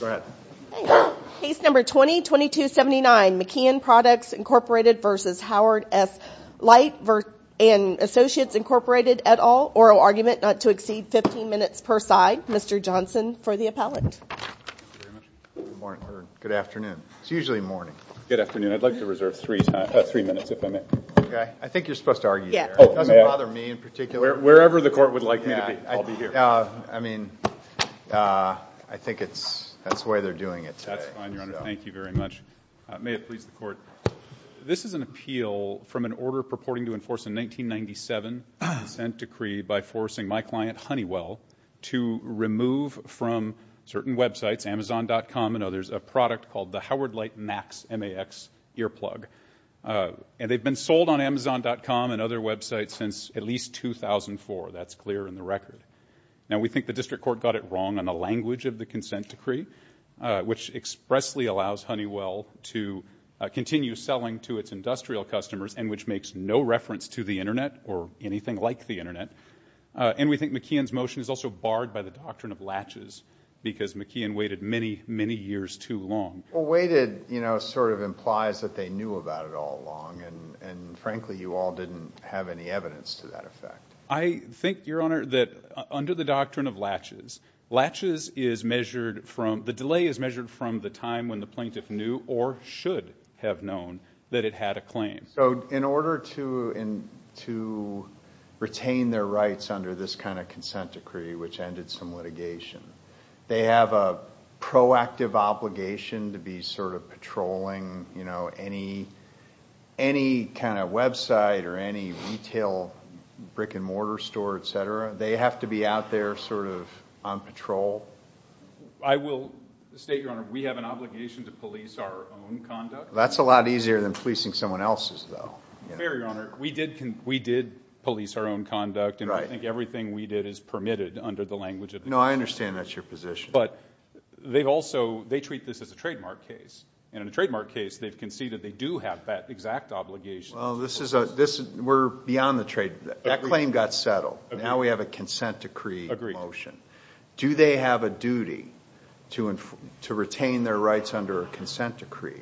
Go ahead. Case number 20-2279 McKeon Products Incorporated v. Howard S Leight and Associates Incorporated et al. Oral argument not to exceed 15 minutes per side. Mr. Johnson for the appellate. Good morning or good afternoon. It's usually morning. Good afternoon. I'd like to reserve three minutes if I may. Okay. I think you're supposed to argue here. It doesn't bother me in particular. Wherever the court would like me to be, I'll be here. I mean, I think that's the way they're doing it today. That's fine, Your Honor. Thank you very much. May it please the court. This is an appeal from an order purporting to enforce a 1997 consent decree by forcing my client, Honeywell, to remove from certain websites, Amazon.com and others, a product called the Howard Leight Max MAX earplug. And they've been sold on Amazon.com and other websites since at least 2004. That's clear in the record. Now, we think the district court got it wrong on the language of the consent decree, which expressly allows Honeywell to continue selling to its industrial customers and which makes no reference to the Internet or anything like the Internet. And we think McKeon's motion is also barred by the doctrine of latches because McKeon waited many, many years too long. Waited, you know, sort of implies that they knew about it all along. And frankly, you all didn't have any evidence to that effect. I think, Your Honor, that under the doctrine of latches, latches is measured from – the delay is measured from the time when the plaintiff knew or should have known that it had a claim. So in order to retain their rights under this kind of consent decree, which ended some litigation, they have a proactive obligation to be sort of patrolling any kind of website or any retail brick-and-mortar store, et cetera. They have to be out there sort of on patrol. I will state, Your Honor, we have an obligation to police our own conduct. That's a lot easier than policing someone else's, though. Fair, Your Honor. We did police our own conduct. And I think everything we did is permitted under the language of the consent decree. No, I understand that's your position. But they also – they treat this as a trademark case. And in a trademark case, they've conceded they do have that exact obligation. Well, this is – we're beyond the trade – that claim got settled. Now we have a consent decree motion. Agreed. Do they have a duty to retain their rights under a consent decree,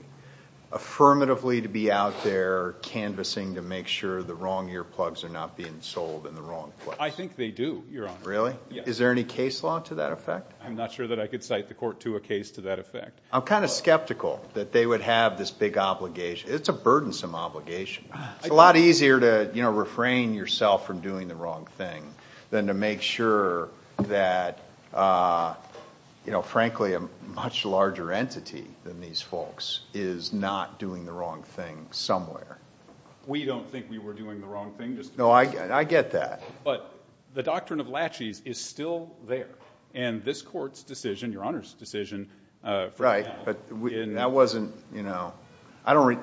affirmatively to be out there canvassing to make sure the wrong earplugs are not being sold in the wrong place? I think they do, Your Honor. Really? Is there any case law to that effect? I'm not sure that I could cite the court to a case to that effect. I'm kind of skeptical that they would have this big obligation. It's a burdensome obligation. It's a lot easier to, you know, refrain yourself from doing the wrong thing than to make sure that, you know, frankly, a much larger entity than these folks is not doing the wrong thing somewhere. We don't think we were doing the wrong thing. No, I get that. But the doctrine of latches is still there. And this court's decision, Your Honor's decision, for now. Right, but that wasn't, you know, I don't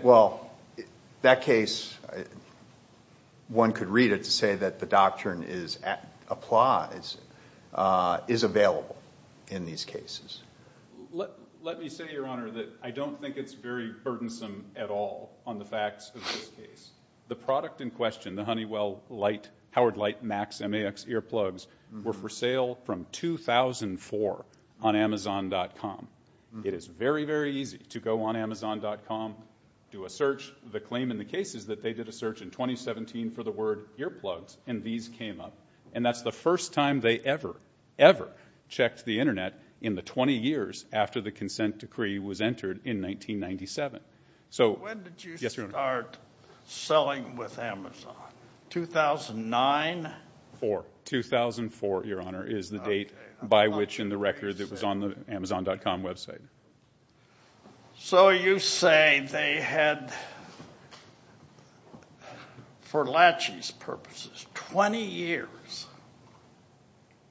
– well, that case, one could read it to say that the doctrine applies, is available in these cases. Let me say, Your Honor, that I don't think it's very burdensome at all on the facts of this case. The product in question, the Honeywell Light, Howard Light Max MAX earplugs, were for sale from 2004 on Amazon.com. It is very, very easy to go on Amazon.com, do a search. The claim in the case is that they did a search in 2017 for the word earplugs, and these came up. And that's the first time they ever, ever checked the Internet in the 20 years after the consent decree was entered in 1997. When did you start selling with Amazon? 2009? 2004, Your Honor, is the date by which in the record that was on the Amazon.com website. So you say they had, for latches purposes, 20 years.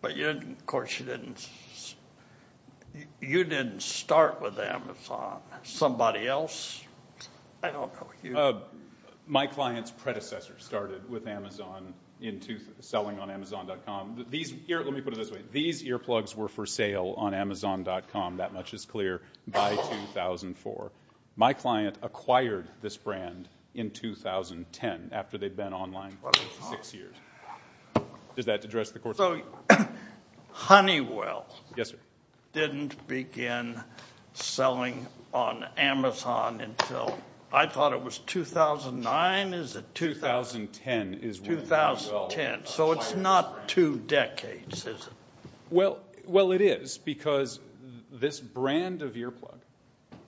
But, of course, you didn't start with Amazon. Somebody else? I don't know. My client's predecessor started with Amazon, selling on Amazon.com. Let me put it this way. These earplugs were for sale on Amazon.com, that much is clear, by 2004. My client acquired this brand in 2010, after they'd been online for six years. Does that address the court? So Honeywell didn't begin selling on Amazon until, I thought it was 2009, is it? 2010 is when Honeywell acquired the brand. So it's not two decades, is it? Well, it is, because this brand of earplug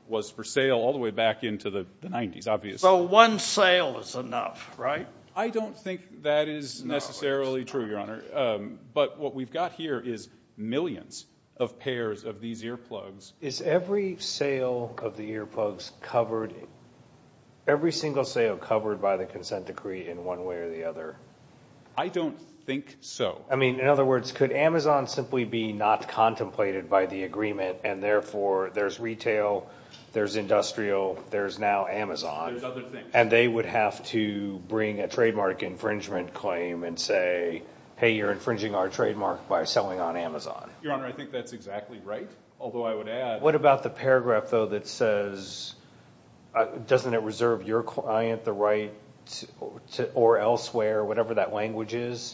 was for sale all the way back into the 90s, obviously. So one sale is enough, right? I don't think that is necessarily true, Your Honor. But what we've got here is millions of pairs of these earplugs. Is every sale of the earplugs covered, every single sale covered by the consent decree in one way or the other? I don't think so. I mean, in other words, could Amazon simply be not contemplated by the agreement, and therefore there's retail, there's industrial, there's now Amazon. There's other things. And they would have to bring a trademark infringement claim and say, hey, you're infringing our trademark by selling on Amazon. Your Honor, I think that's exactly right, although I would add— What about the paragraph, though, that says, doesn't it reserve your client the right or elsewhere, whatever that language is?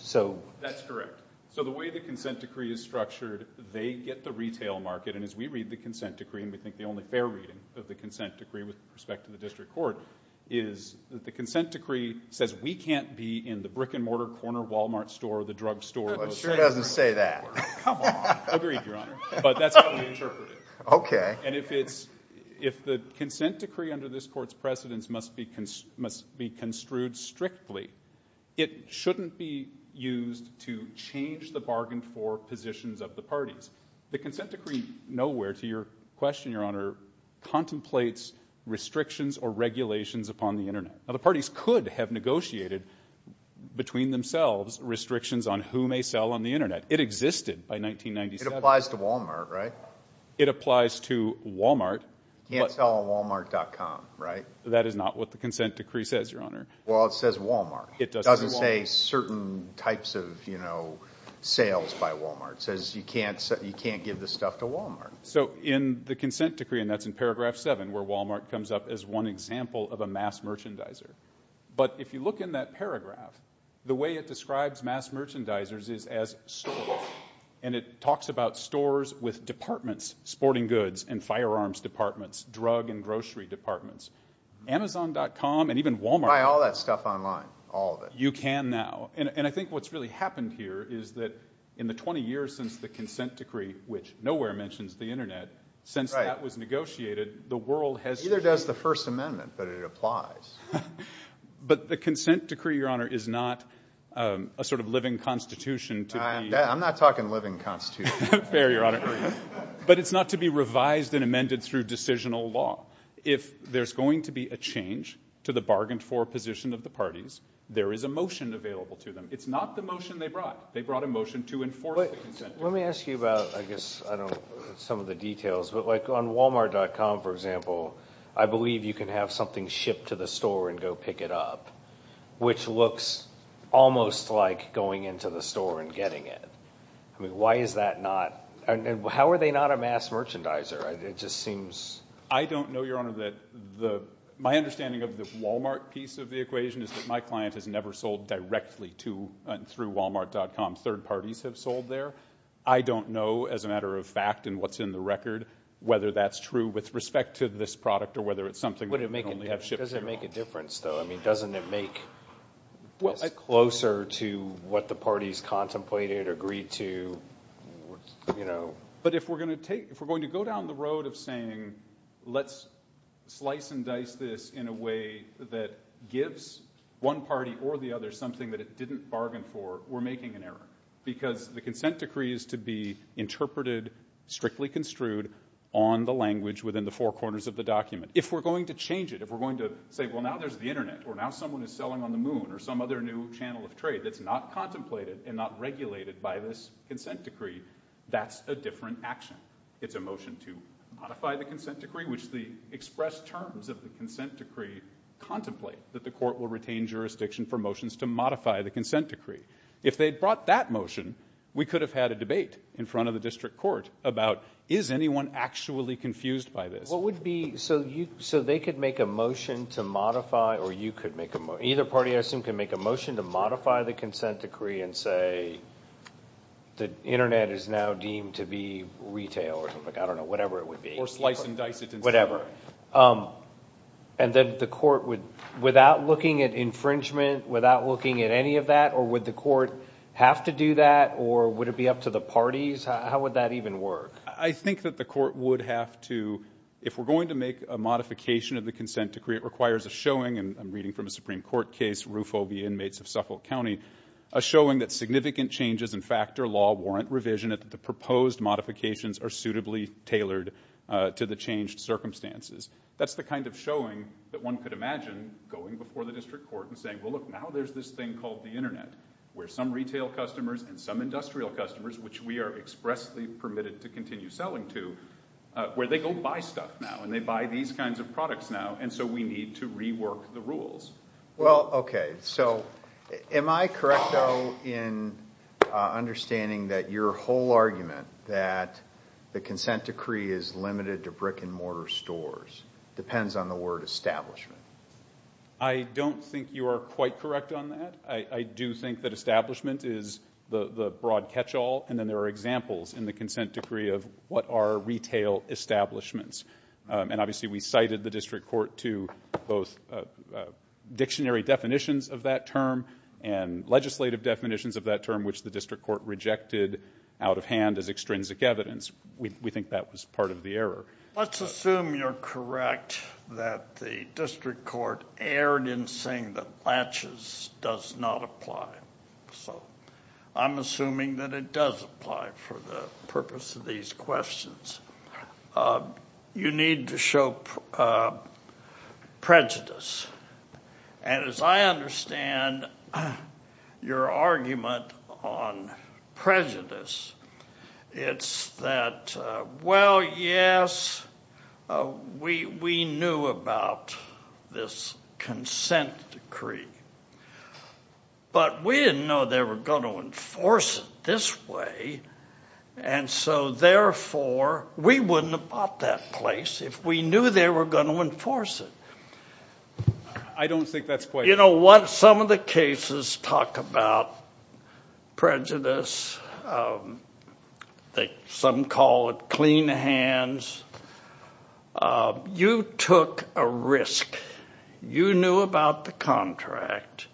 That's correct. So the way the consent decree is structured, they get the retail market. And as we read the consent decree, and we think the only fair reading of the consent decree with respect to the district court, is that the consent decree says we can't be in the brick-and-mortar corner Walmart store or the drugstore. It sure doesn't say that. Come on. Agreed, Your Honor. But that's how we interpret it. And if the consent decree under this court's precedence must be construed strictly, it shouldn't be used to change the bargain for positions of the parties. The consent decree, nowhere to your question, Your Honor, contemplates restrictions or regulations upon the Internet. Now, the parties could have negotiated between themselves restrictions on who may sell on the Internet. It existed by 1997. It applies to Walmart, right? It applies to Walmart. You can't sell on Walmart.com, right? That is not what the consent decree says, Your Honor. Well, it says Walmart. It doesn't say certain types of, you know, sales by Walmart. It says you can't give this stuff to Walmart. So in the consent decree, and that's in paragraph 7, where Walmart comes up as one example of a mass merchandiser, but if you look in that paragraph, the way it describes mass merchandisers is as stores, and it talks about stores with departments, sporting goods and firearms departments, drug and grocery departments. Amazon.com and even Walmart. Buy all that stuff online, all of it. You can now. And I think what's really happened here is that in the 20 years since the consent decree, which nowhere mentions the Internet, since that was negotiated, the world has changed. It either does the First Amendment, but it applies. But the consent decree, Your Honor, is not a sort of living constitution to be. I'm not talking living constitution. Fair, Your Honor. But it's not to be revised and amended through decisional law. If there's going to be a change to the bargained-for position of the parties, there is a motion available to them. It's not the motion they brought. They brought a motion to enforce the consent decree. Let me ask you about, I guess, I don't know, some of the details, but, like, on Walmart.com, for example, I believe you can have something shipped to the store and go pick it up, which looks almost like going into the store and getting it. I mean, why is that not? And how are they not a mass merchandiser? It just seems. I don't know, Your Honor. My understanding of the Walmart piece of the equation is that my client has never sold directly to and through Walmart.com. Third parties have sold there. I don't know, as a matter of fact and what's in the record, whether that's true with respect to this product or whether it's something that we only have shipped here. Does it make a difference, though? I mean, doesn't it make this closer to what the parties contemplated, agreed to, you know? But if we're going to go down the road of saying let's slice and dice this in a way that gives one party or the other something that it didn't bargain for, we're making an error, because the consent decree is to be interpreted, strictly construed, on the language within the four corners of the document. If we're going to change it, if we're going to say, well, now there's the Internet or now someone is selling on the moon or some other new channel of trade that's not contemplated and not regulated by this consent decree, that's a different action. It's a motion to modify the consent decree, which the expressed terms of the consent decree contemplate that the court will retain jurisdiction for motions to modify the consent decree. If they'd brought that motion, we could have had a debate in front of the district court about is anyone actually confused by this? What would be, so they could make a motion to modify, or you could make a motion, either party I assume could make a motion to modify the consent decree and say the Internet is now deemed to be retail, or I don't know, whatever it would be. Or slice and dice it. Whatever. And then the court would, without looking at infringement, without looking at any of that, or would the court have to do that, or would it be up to the parties? How would that even work? I think that the court would have to, if we're going to make a modification of the consent decree, it requires a showing, and I'm reading from a Supreme Court case, Rufo v. Inmates of Suffolk County, a showing that significant changes in factor law warrant revision, that the proposed modifications are suitably tailored to the changed circumstances. That's the kind of showing that one could imagine going before the district court and saying, well, look, now there's this thing called the Internet where some retail customers and some industrial customers, which we are expressly permitted to continue selling to, where they go buy stuff now, and they buy these kinds of products now, and so we need to rework the rules. Well, okay. So am I correct, though, in understanding that your whole argument that the consent decree is limited to brick-and-mortar stores depends on the word establishment? I don't think you are quite correct on that. I do think that establishment is the broad catch-all, and then there are examples in the consent decree of what are retail establishments. And obviously we cited the district court to both dictionary definitions of that term and legislative definitions of that term, which the district court rejected out of hand as extrinsic evidence. We think that was part of the error. Let's assume you're correct that the district court erred in saying that latches does not apply. So I'm assuming that it does apply for the purpose of these questions. You need to show prejudice, and as I understand your argument on prejudice, it's that, well, yes, we knew about this consent decree, but we didn't know they were going to enforce it this way, and so therefore we wouldn't have bought that place if we knew they were going to enforce it. I don't think that's quite right. You know what? Some of the cases talk about prejudice. Some call it clean hands. You took a risk. You knew about the contract.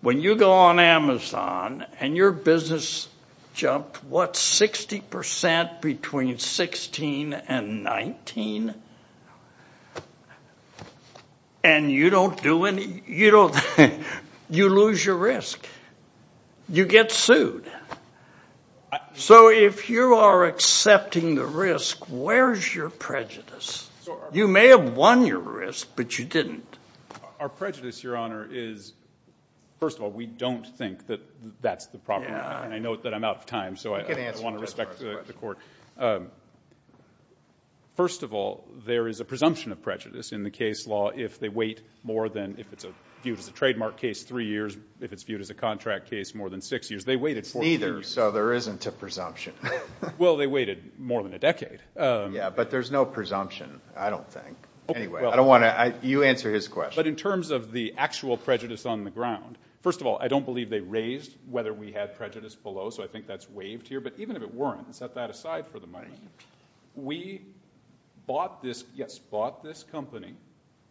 When you go on Amazon and your business jumped, what, 60% between 16 and 19? And you don't do any you don't you lose your risk. You get sued. So if you are accepting the risk, where's your prejudice? You may have won your risk, but you didn't. Our prejudice, Your Honor, is, first of all, we don't think that that's the problem, and I know that I'm out of time, so I want to respect the court. First of all, there is a presumption of prejudice in the case law if they wait more than, if it's viewed as a trademark case, three years. If it's viewed as a contract case, more than six years. They waited 14 years. Neither, so there isn't a presumption. Well, they waited more than a decade. Yeah, but there's no presumption, I don't think. Anyway, I don't want to you answer his question. But in terms of the actual prejudice on the ground, first of all, I don't believe they raised whether we had prejudice below, so I think that's waived here. But even if it weren't, set that aside for the moment. We bought this company,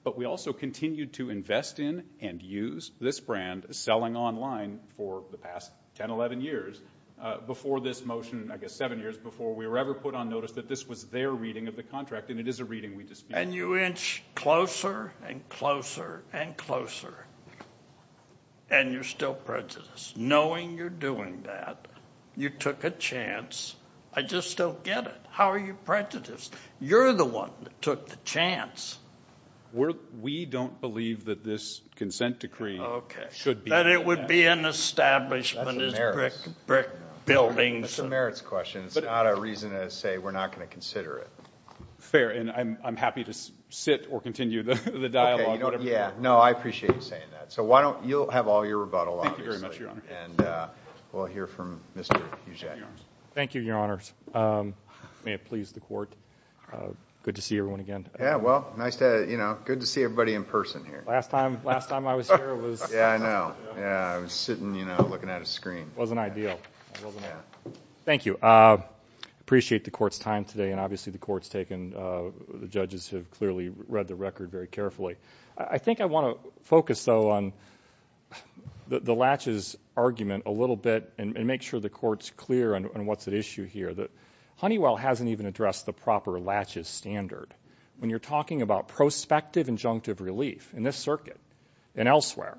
but we also continued to invest in and use this brand, selling online for the past 10, 11 years before this motion, I guess seven years before we were ever put on notice that this was their reading of the contract, and it is a reading we dispute. And you inch closer and closer and closer, and you're still prejudiced. Knowing you're doing that, you took a chance. I just don't get it. How are you prejudiced? You're the one that took the chance. We don't believe that this consent decree should be. Okay, that it would be an establishment, brick buildings. That's a merits question. It's not a reason to say we're not going to consider it. Fair, and I'm happy to sit or continue the dialogue. Yeah, no, I appreciate you saying that. So you'll have all your rebuttal, obviously. Thank you very much, Your Honor. And we'll hear from Mr. Huget. Thank you, Your Honors. May it please the Court. Good to see everyone again. Yeah, well, good to see everybody in person here. Last time I was here it was... Yeah, I know. I was sitting, you know, looking at a screen. It wasn't ideal. It wasn't ideal. Thank you. I appreciate the Court's time today, and obviously the Court's taken, the judges have clearly read the record very carefully. I think I want to focus, though, on the latches argument a little bit and make sure the Court's clear on what's at issue here. Honeywell hasn't even addressed the proper latches standard. When you're talking about prospective injunctive relief in this circuit and elsewhere,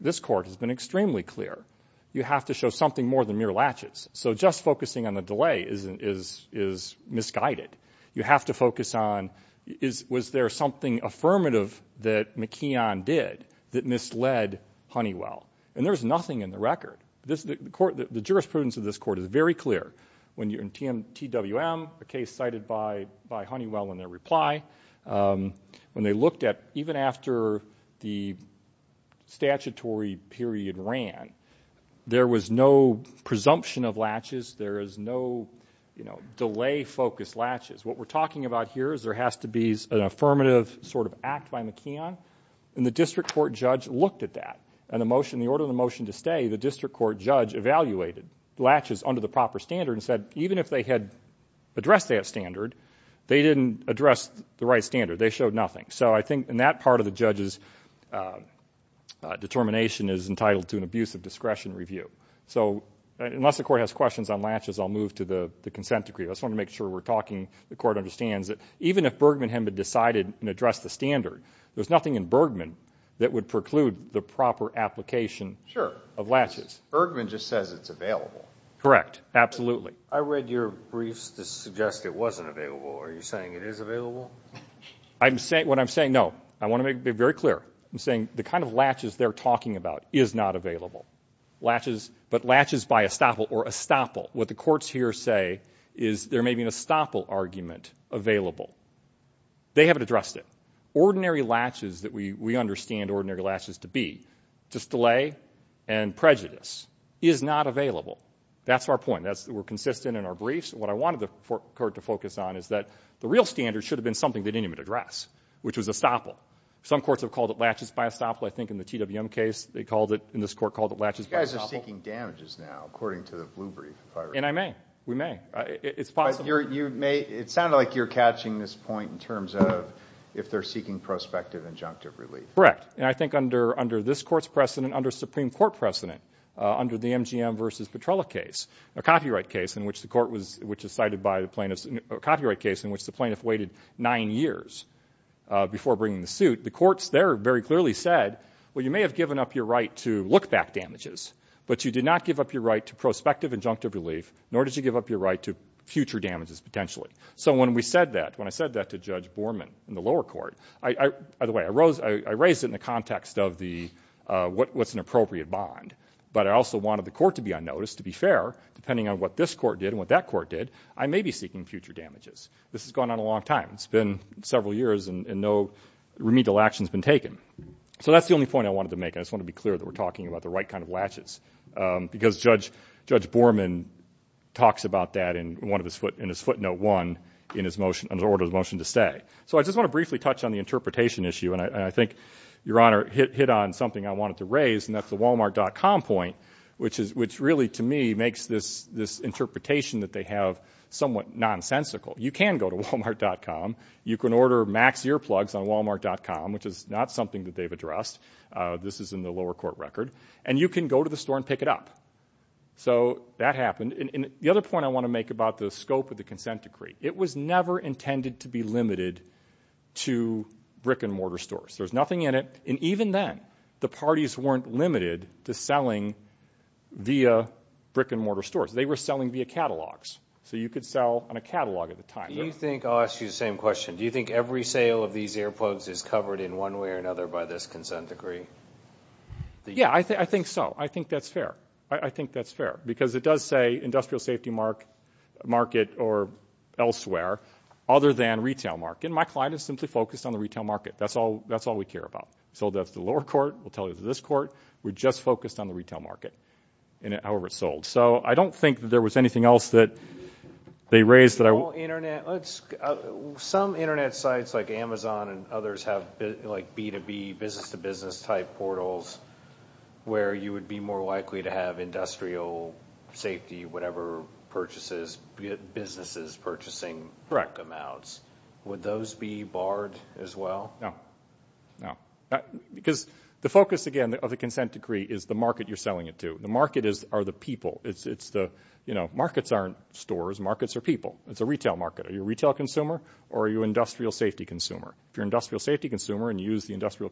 this Court has been extremely clear. You have to show something more than mere latches. So just focusing on the delay is misguided. You have to focus on was there something affirmative that McKeon did that misled Honeywell? And there's nothing in the record. The jurisprudence of this Court is very clear. In TWM, a case cited by Honeywell in their reply, when they looked at even after the statutory period ran, there was no presumption of latches. There is no delay-focused latches. What we're talking about here is there has to be an affirmative sort of act by McKeon, and the district court judge looked at that. In the order of the motion to stay, the district court judge evaluated latches under the proper standard and said even if they had addressed that standard, they didn't address the right standard. They showed nothing. So I think in that part of the judge's determination is entitled to an abuse of discretion review. So unless the Court has questions on latches, I'll move to the consent decree. I just want to make sure we're talking, the Court understands that even if Bergman hadn't decided and addressed the standard, there's nothing in Bergman that would preclude the proper application of latches. Sure. Bergman just says it's available. Correct. Absolutely. I read your briefs that suggest it wasn't available. Are you saying it is available? What I'm saying, no. I want to be very clear. I'm saying the kind of latches they're talking about is not available. But latches by estoppel or estoppel, what the courts here say is there may be an estoppel argument available. They haven't addressed it. Ordinary latches that we understand ordinary latches to be, just delay and prejudice, is not available. That's our point. We're consistent in our briefs. What I wanted the Court to focus on is that the real standard should have been something they didn't even address, which was estoppel. Some courts have called it latches by estoppel. I think in the TWM case, they called it, in this court, called it latches by estoppel. You guys are seeking damages now, according to the Blue Brief. And I may. We may. It's possible. It sounded like you're catching this point in terms of if they're seeking prospective injunctive relief. Correct. And I think under this Court's precedent, under Supreme Court precedent, under the MGM versus Petrella case, a copyright case in which the court was, which is cited by the plaintiffs, a copyright case in which the plaintiff waited nine years before bringing the suit, the courts there very clearly said, well, you may have given up your right to look back damages, but you did not give up your right to prospective injunctive relief, nor did you give up your right to future damages potentially. So when we said that, when I said that to Judge Borman in the lower court, by the way, I raised it in the context of the, what's an appropriate bond. But I also wanted the Court to be on notice, to be fair, depending on what this Court did and what that Court did, I may be seeking future damages. This has gone on a long time. It's been several years and no remedial action's been taken. So that's the only point I wanted to make. I just want to be clear that we're talking about the right kind of latches because Judge Borman talks about that in one of his foot, in his footnote one in his motion, in his order of motion to stay. So I just want to briefly touch on the interpretation issue. And I think Your Honor hit on something I wanted to raise, and that's the walmart.com point, which is, which really to me makes this interpretation that they have somewhat nonsensical. You can go to walmart.com, you can order max earplugs on walmart.com, which is not something that they've addressed. This is in the lower court record. And you can go to the store and pick it up. So that happened. And the other point I want to make about the scope of the consent decree, it was never intended to be limited to brick and mortar stores. There's nothing in it. And even then, the parties weren't limited to selling via brick and mortar stores. They were selling via catalogs. So you could sell on a catalog at the time. Do you think, I'll ask you the same question, do you think every sale of these earplugs is covered in one way or another by this consent decree? Yeah, I think so. I think that's fair. I think that's fair. Because it does say industrial safety market or elsewhere, other than retail market. And my client is simply focused on the retail market. That's all we care about. So that's the lower court. We'll tell you the this court. We're just focused on the retail market, however it's sold. So I don't think that there was anything else that they raised. Some Internet sites like Amazon and others have like B2B, business-to-business type portals, where you would be more likely to have industrial safety, whatever purchases, businesses purchasing amounts. Would those be barred as well? No, no. Because the focus, again, of the consent decree is the market you're selling it to. The markets are the people. Markets aren't stores. Markets are people. It's a retail market. Are you a retail consumer or are you an industrial safety consumer? If you're an industrial safety consumer and you use the industrial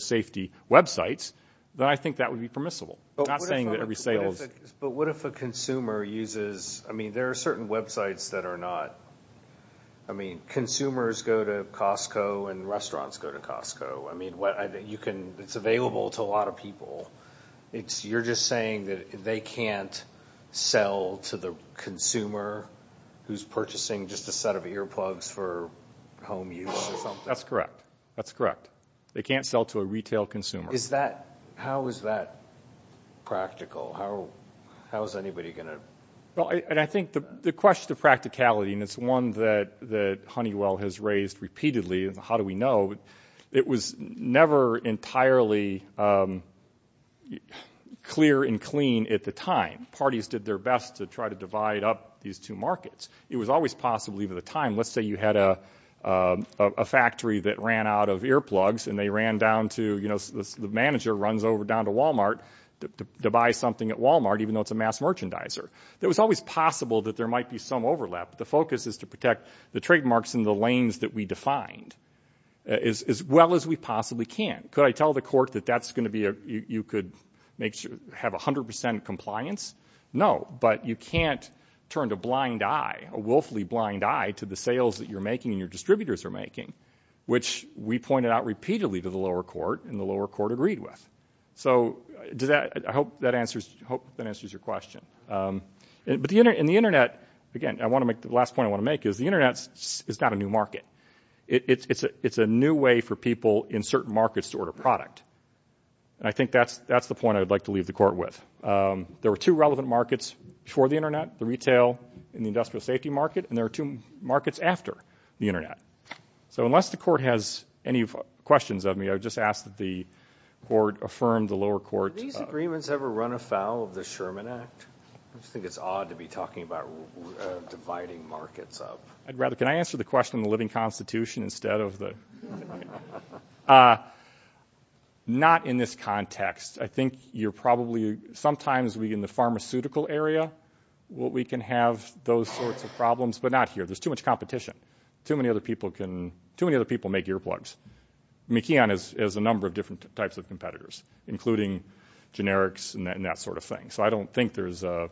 safety websites, then I think that would be permissible. I'm not saying that every sale is. But what if a consumer uses – I mean, there are certain websites that are not – I mean, consumers go to Costco and restaurants go to Costco. I mean, it's available to a lot of people. You're just saying that they can't sell to the consumer who's purchasing just a set of earplugs for home use or something? That's correct. That's correct. They can't sell to a retail consumer. How is that practical? How is anybody going to – Well, and I think the question of practicality, and it's one that Honeywell has raised repeatedly, and how do we know, it was never entirely clear and clean at the time. Parties did their best to try to divide up these two markets. It was always possible even at the time – let's say you had a factory that ran out of earplugs and they ran down to – the manager runs down to Walmart to buy something at Walmart even though it's a mass merchandiser. It was always possible that there might be some overlap. The focus is to protect the trademarks in the lanes that we defined as well as we possibly can. Could I tell the court that you could have 100% compliance? No, but you can't turn a blind eye, a willfully blind eye, to the sales that you're making and your distributors are making, which we pointed out repeatedly to the lower court and the lower court agreed with. So I hope that answers your question. But the Internet – again, the last point I want to make is the Internet is not a new market. It's a new way for people in certain markets to order product, and I think that's the point I'd like to leave the court with. There were two relevant markets before the Internet, the retail and the industrial safety market, and there are two markets after the Internet. So unless the court has any questions of me, I would just ask that the court affirm the lower court – I just think it's odd to be talking about dividing markets up. I'd rather – can I answer the question in the living constitution instead of the – not in this context. I think you're probably – sometimes we, in the pharmaceutical area, we can have those sorts of problems, but not here. There's too much competition. Too many other people can – too many other people make earplugs. McKeon has a number of different types of competitors, including generics and that sort of thing. So I don't think there's an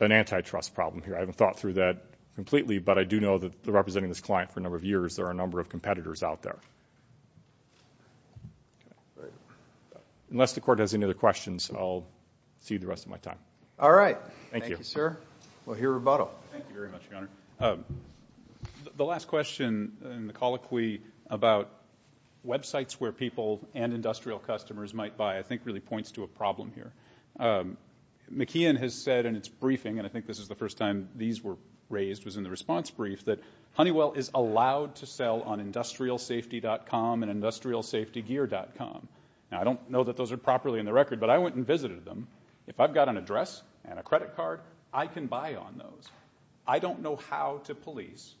antitrust problem here. I haven't thought through that completely, but I do know that they're representing this client for a number of years. There are a number of competitors out there. Unless the court has any other questions, I'll see you the rest of my time. All right. Thank you. Thank you, sir. We'll hear rebuttal. Thank you very much, Your Honor. The last question in the colloquy about websites where people and industrial customers might buy I think really points to a problem here. McKeon has said in its briefing, and I think this is the first time these were raised, was in the response brief, that Honeywell is allowed to sell on industrialsafety.com and industrialsafetygear.com. Now, I don't know that those are properly in the record, but I went and visited them. If I've got an address and a credit card, I can buy on those. I don't know how to police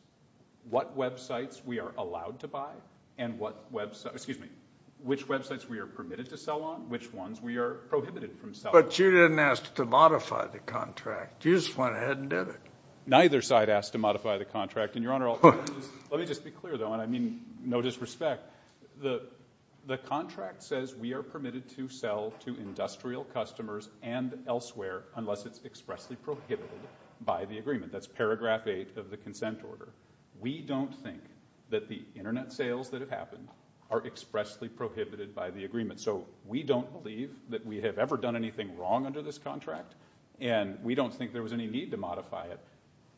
what websites we are allowed to buy and which websites we are permitted to sell on, which ones we are prohibited from selling on. But you didn't ask to modify the contract. You just went ahead and did it. Neither side asked to modify the contract. Your Honor, let me just be clear, though, and I mean no disrespect. The contract says we are permitted to sell to industrial customers and elsewhere unless it's expressly prohibited by the agreement. That's paragraph 8 of the consent order. We don't think that the Internet sales that have happened are expressly prohibited by the agreement. So we don't believe that we have ever done anything wrong under this contract and we don't think there was any need to modify it.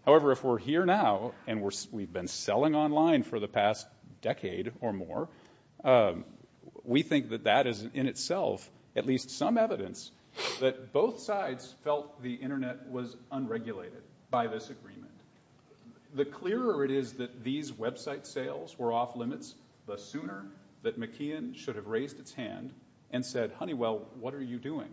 However, if we're here now and we've been selling online for the past decade or more, we think that that is in itself at least some evidence that both sides felt the Internet was unregulated by this agreement. The clearer it is that these website sales were off limits, the sooner that McKeon should have raised its hand and said, Honeywell, what are you doing?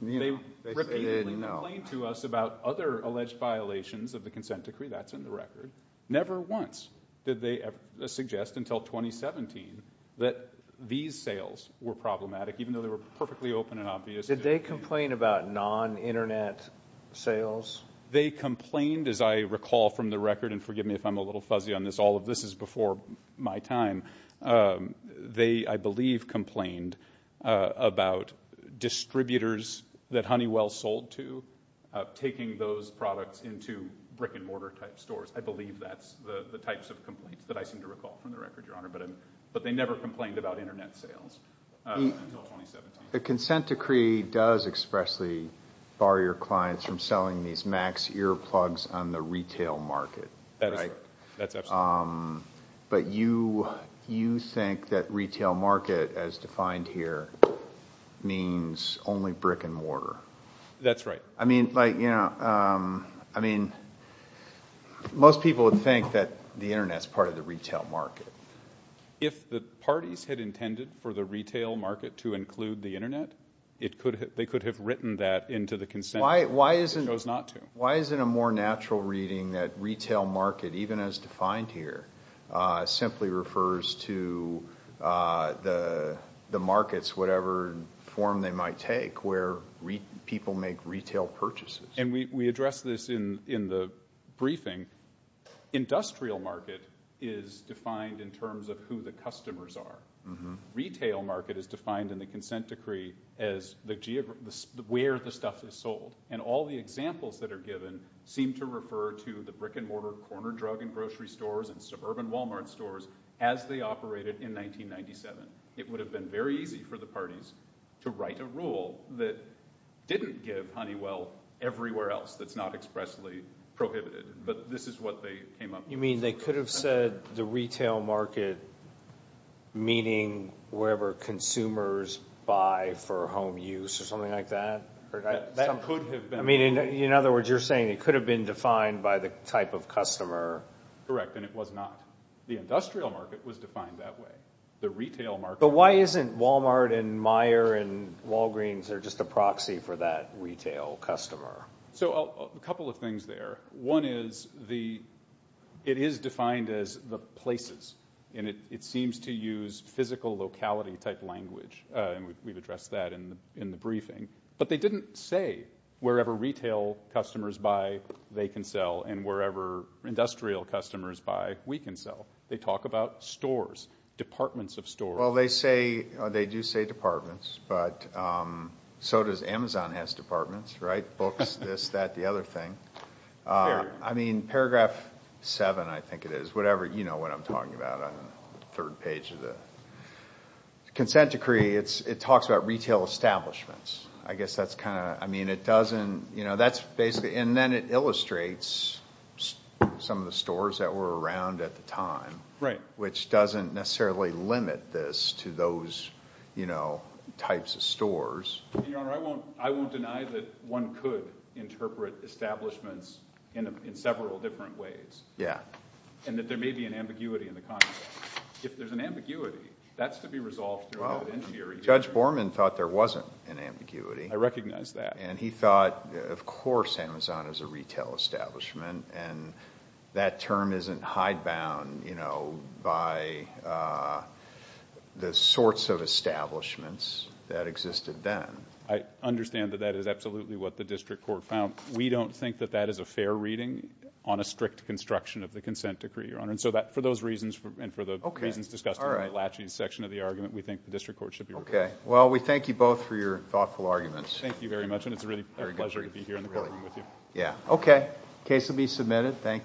They repeatedly complained to us about other alleged violations of the consent decree. That's in the record. Never once did they suggest until 2017 that these sales were problematic, even though they were perfectly open and obvious. Did they complain about non-Internet sales? They complained, as I recall from the record, and forgive me if I'm a little fuzzy on this. All of this is before my time. They, I believe, complained about distributors that Honeywell sold to taking those products into brick-and-mortar type stores. I believe that's the types of complaints that I seem to recall from the record, Your Honor. But they never complained about Internet sales until 2017. The consent decree does expressly bar your clients from selling these Max Ear plugs on the retail market. That's right. That's absolutely right. But you think that retail market, as defined here, means only brick-and-mortar. That's right. I mean, like, you know, I mean, most people would think that the Internet's part of the retail market. If the parties had intended for the retail market to include the Internet, they could have written that into the consent decree. Why is it a more natural reading that retail market, even as defined here, simply refers to the markets, whatever form they might take, where people make retail purchases? And we addressed this in the briefing. Industrial market is defined in terms of who the customers are. Retail market is defined in the consent decree as where the stuff is sold. And all the examples that are given seem to refer to the brick-and-mortar corner drug and grocery stores and suburban Walmart stores as they operated in 1997. It would have been very easy for the parties to write a rule that didn't give Honeywell everywhere else that's not expressly prohibited. But this is what they came up with. You mean they could have said the retail market, meaning wherever consumers buy for home use or something like that? That could have been. In other words, you're saying it could have been defined by the type of customer. Correct, and it was not. The industrial market was defined that way. The retail market. But why isn't Walmart and Meijer and Walgreens just a proxy for that retail customer? A couple of things there. One is it is defined as the places, and it seems to use physical locality-type language. We've addressed that in the briefing. But they didn't say wherever retail customers buy, they can sell, and wherever industrial customers buy, we can sell. They talk about stores, departments of stores. They do say departments, but so does Amazon has departments, right? I mean, Paragraph 7, I think it is, whatever. You know what I'm talking about on the third page of the consent decree. It talks about retail establishments. I guess that's kind of, I mean, it doesn't, you know, that's basically, and then it illustrates some of the stores that were around at the time, Your Honor, I won't deny that one could interpret establishments in several different ways. Yeah. And that there may be an ambiguity in the context. If there's an ambiguity, that's to be resolved through an interior hearing. Judge Borman thought there wasn't an ambiguity. I recognize that. And he thought, of course Amazon is a retail establishment, and that term isn't hidebound, you know, by the sorts of establishments that existed then. I understand that that is absolutely what the district court found. We don't think that that is a fair reading on a strict construction of the consent decree, Your Honor, and so for those reasons, and for the reasons discussed in the latching section of the argument, we think the district court should be reviewed. Okay. Well, we thank you both for your thoughtful arguments. Thank you very much, and it's really a pleasure to be here in the courtroom with you. Yeah. Okay. Case will be submitted. Thank you.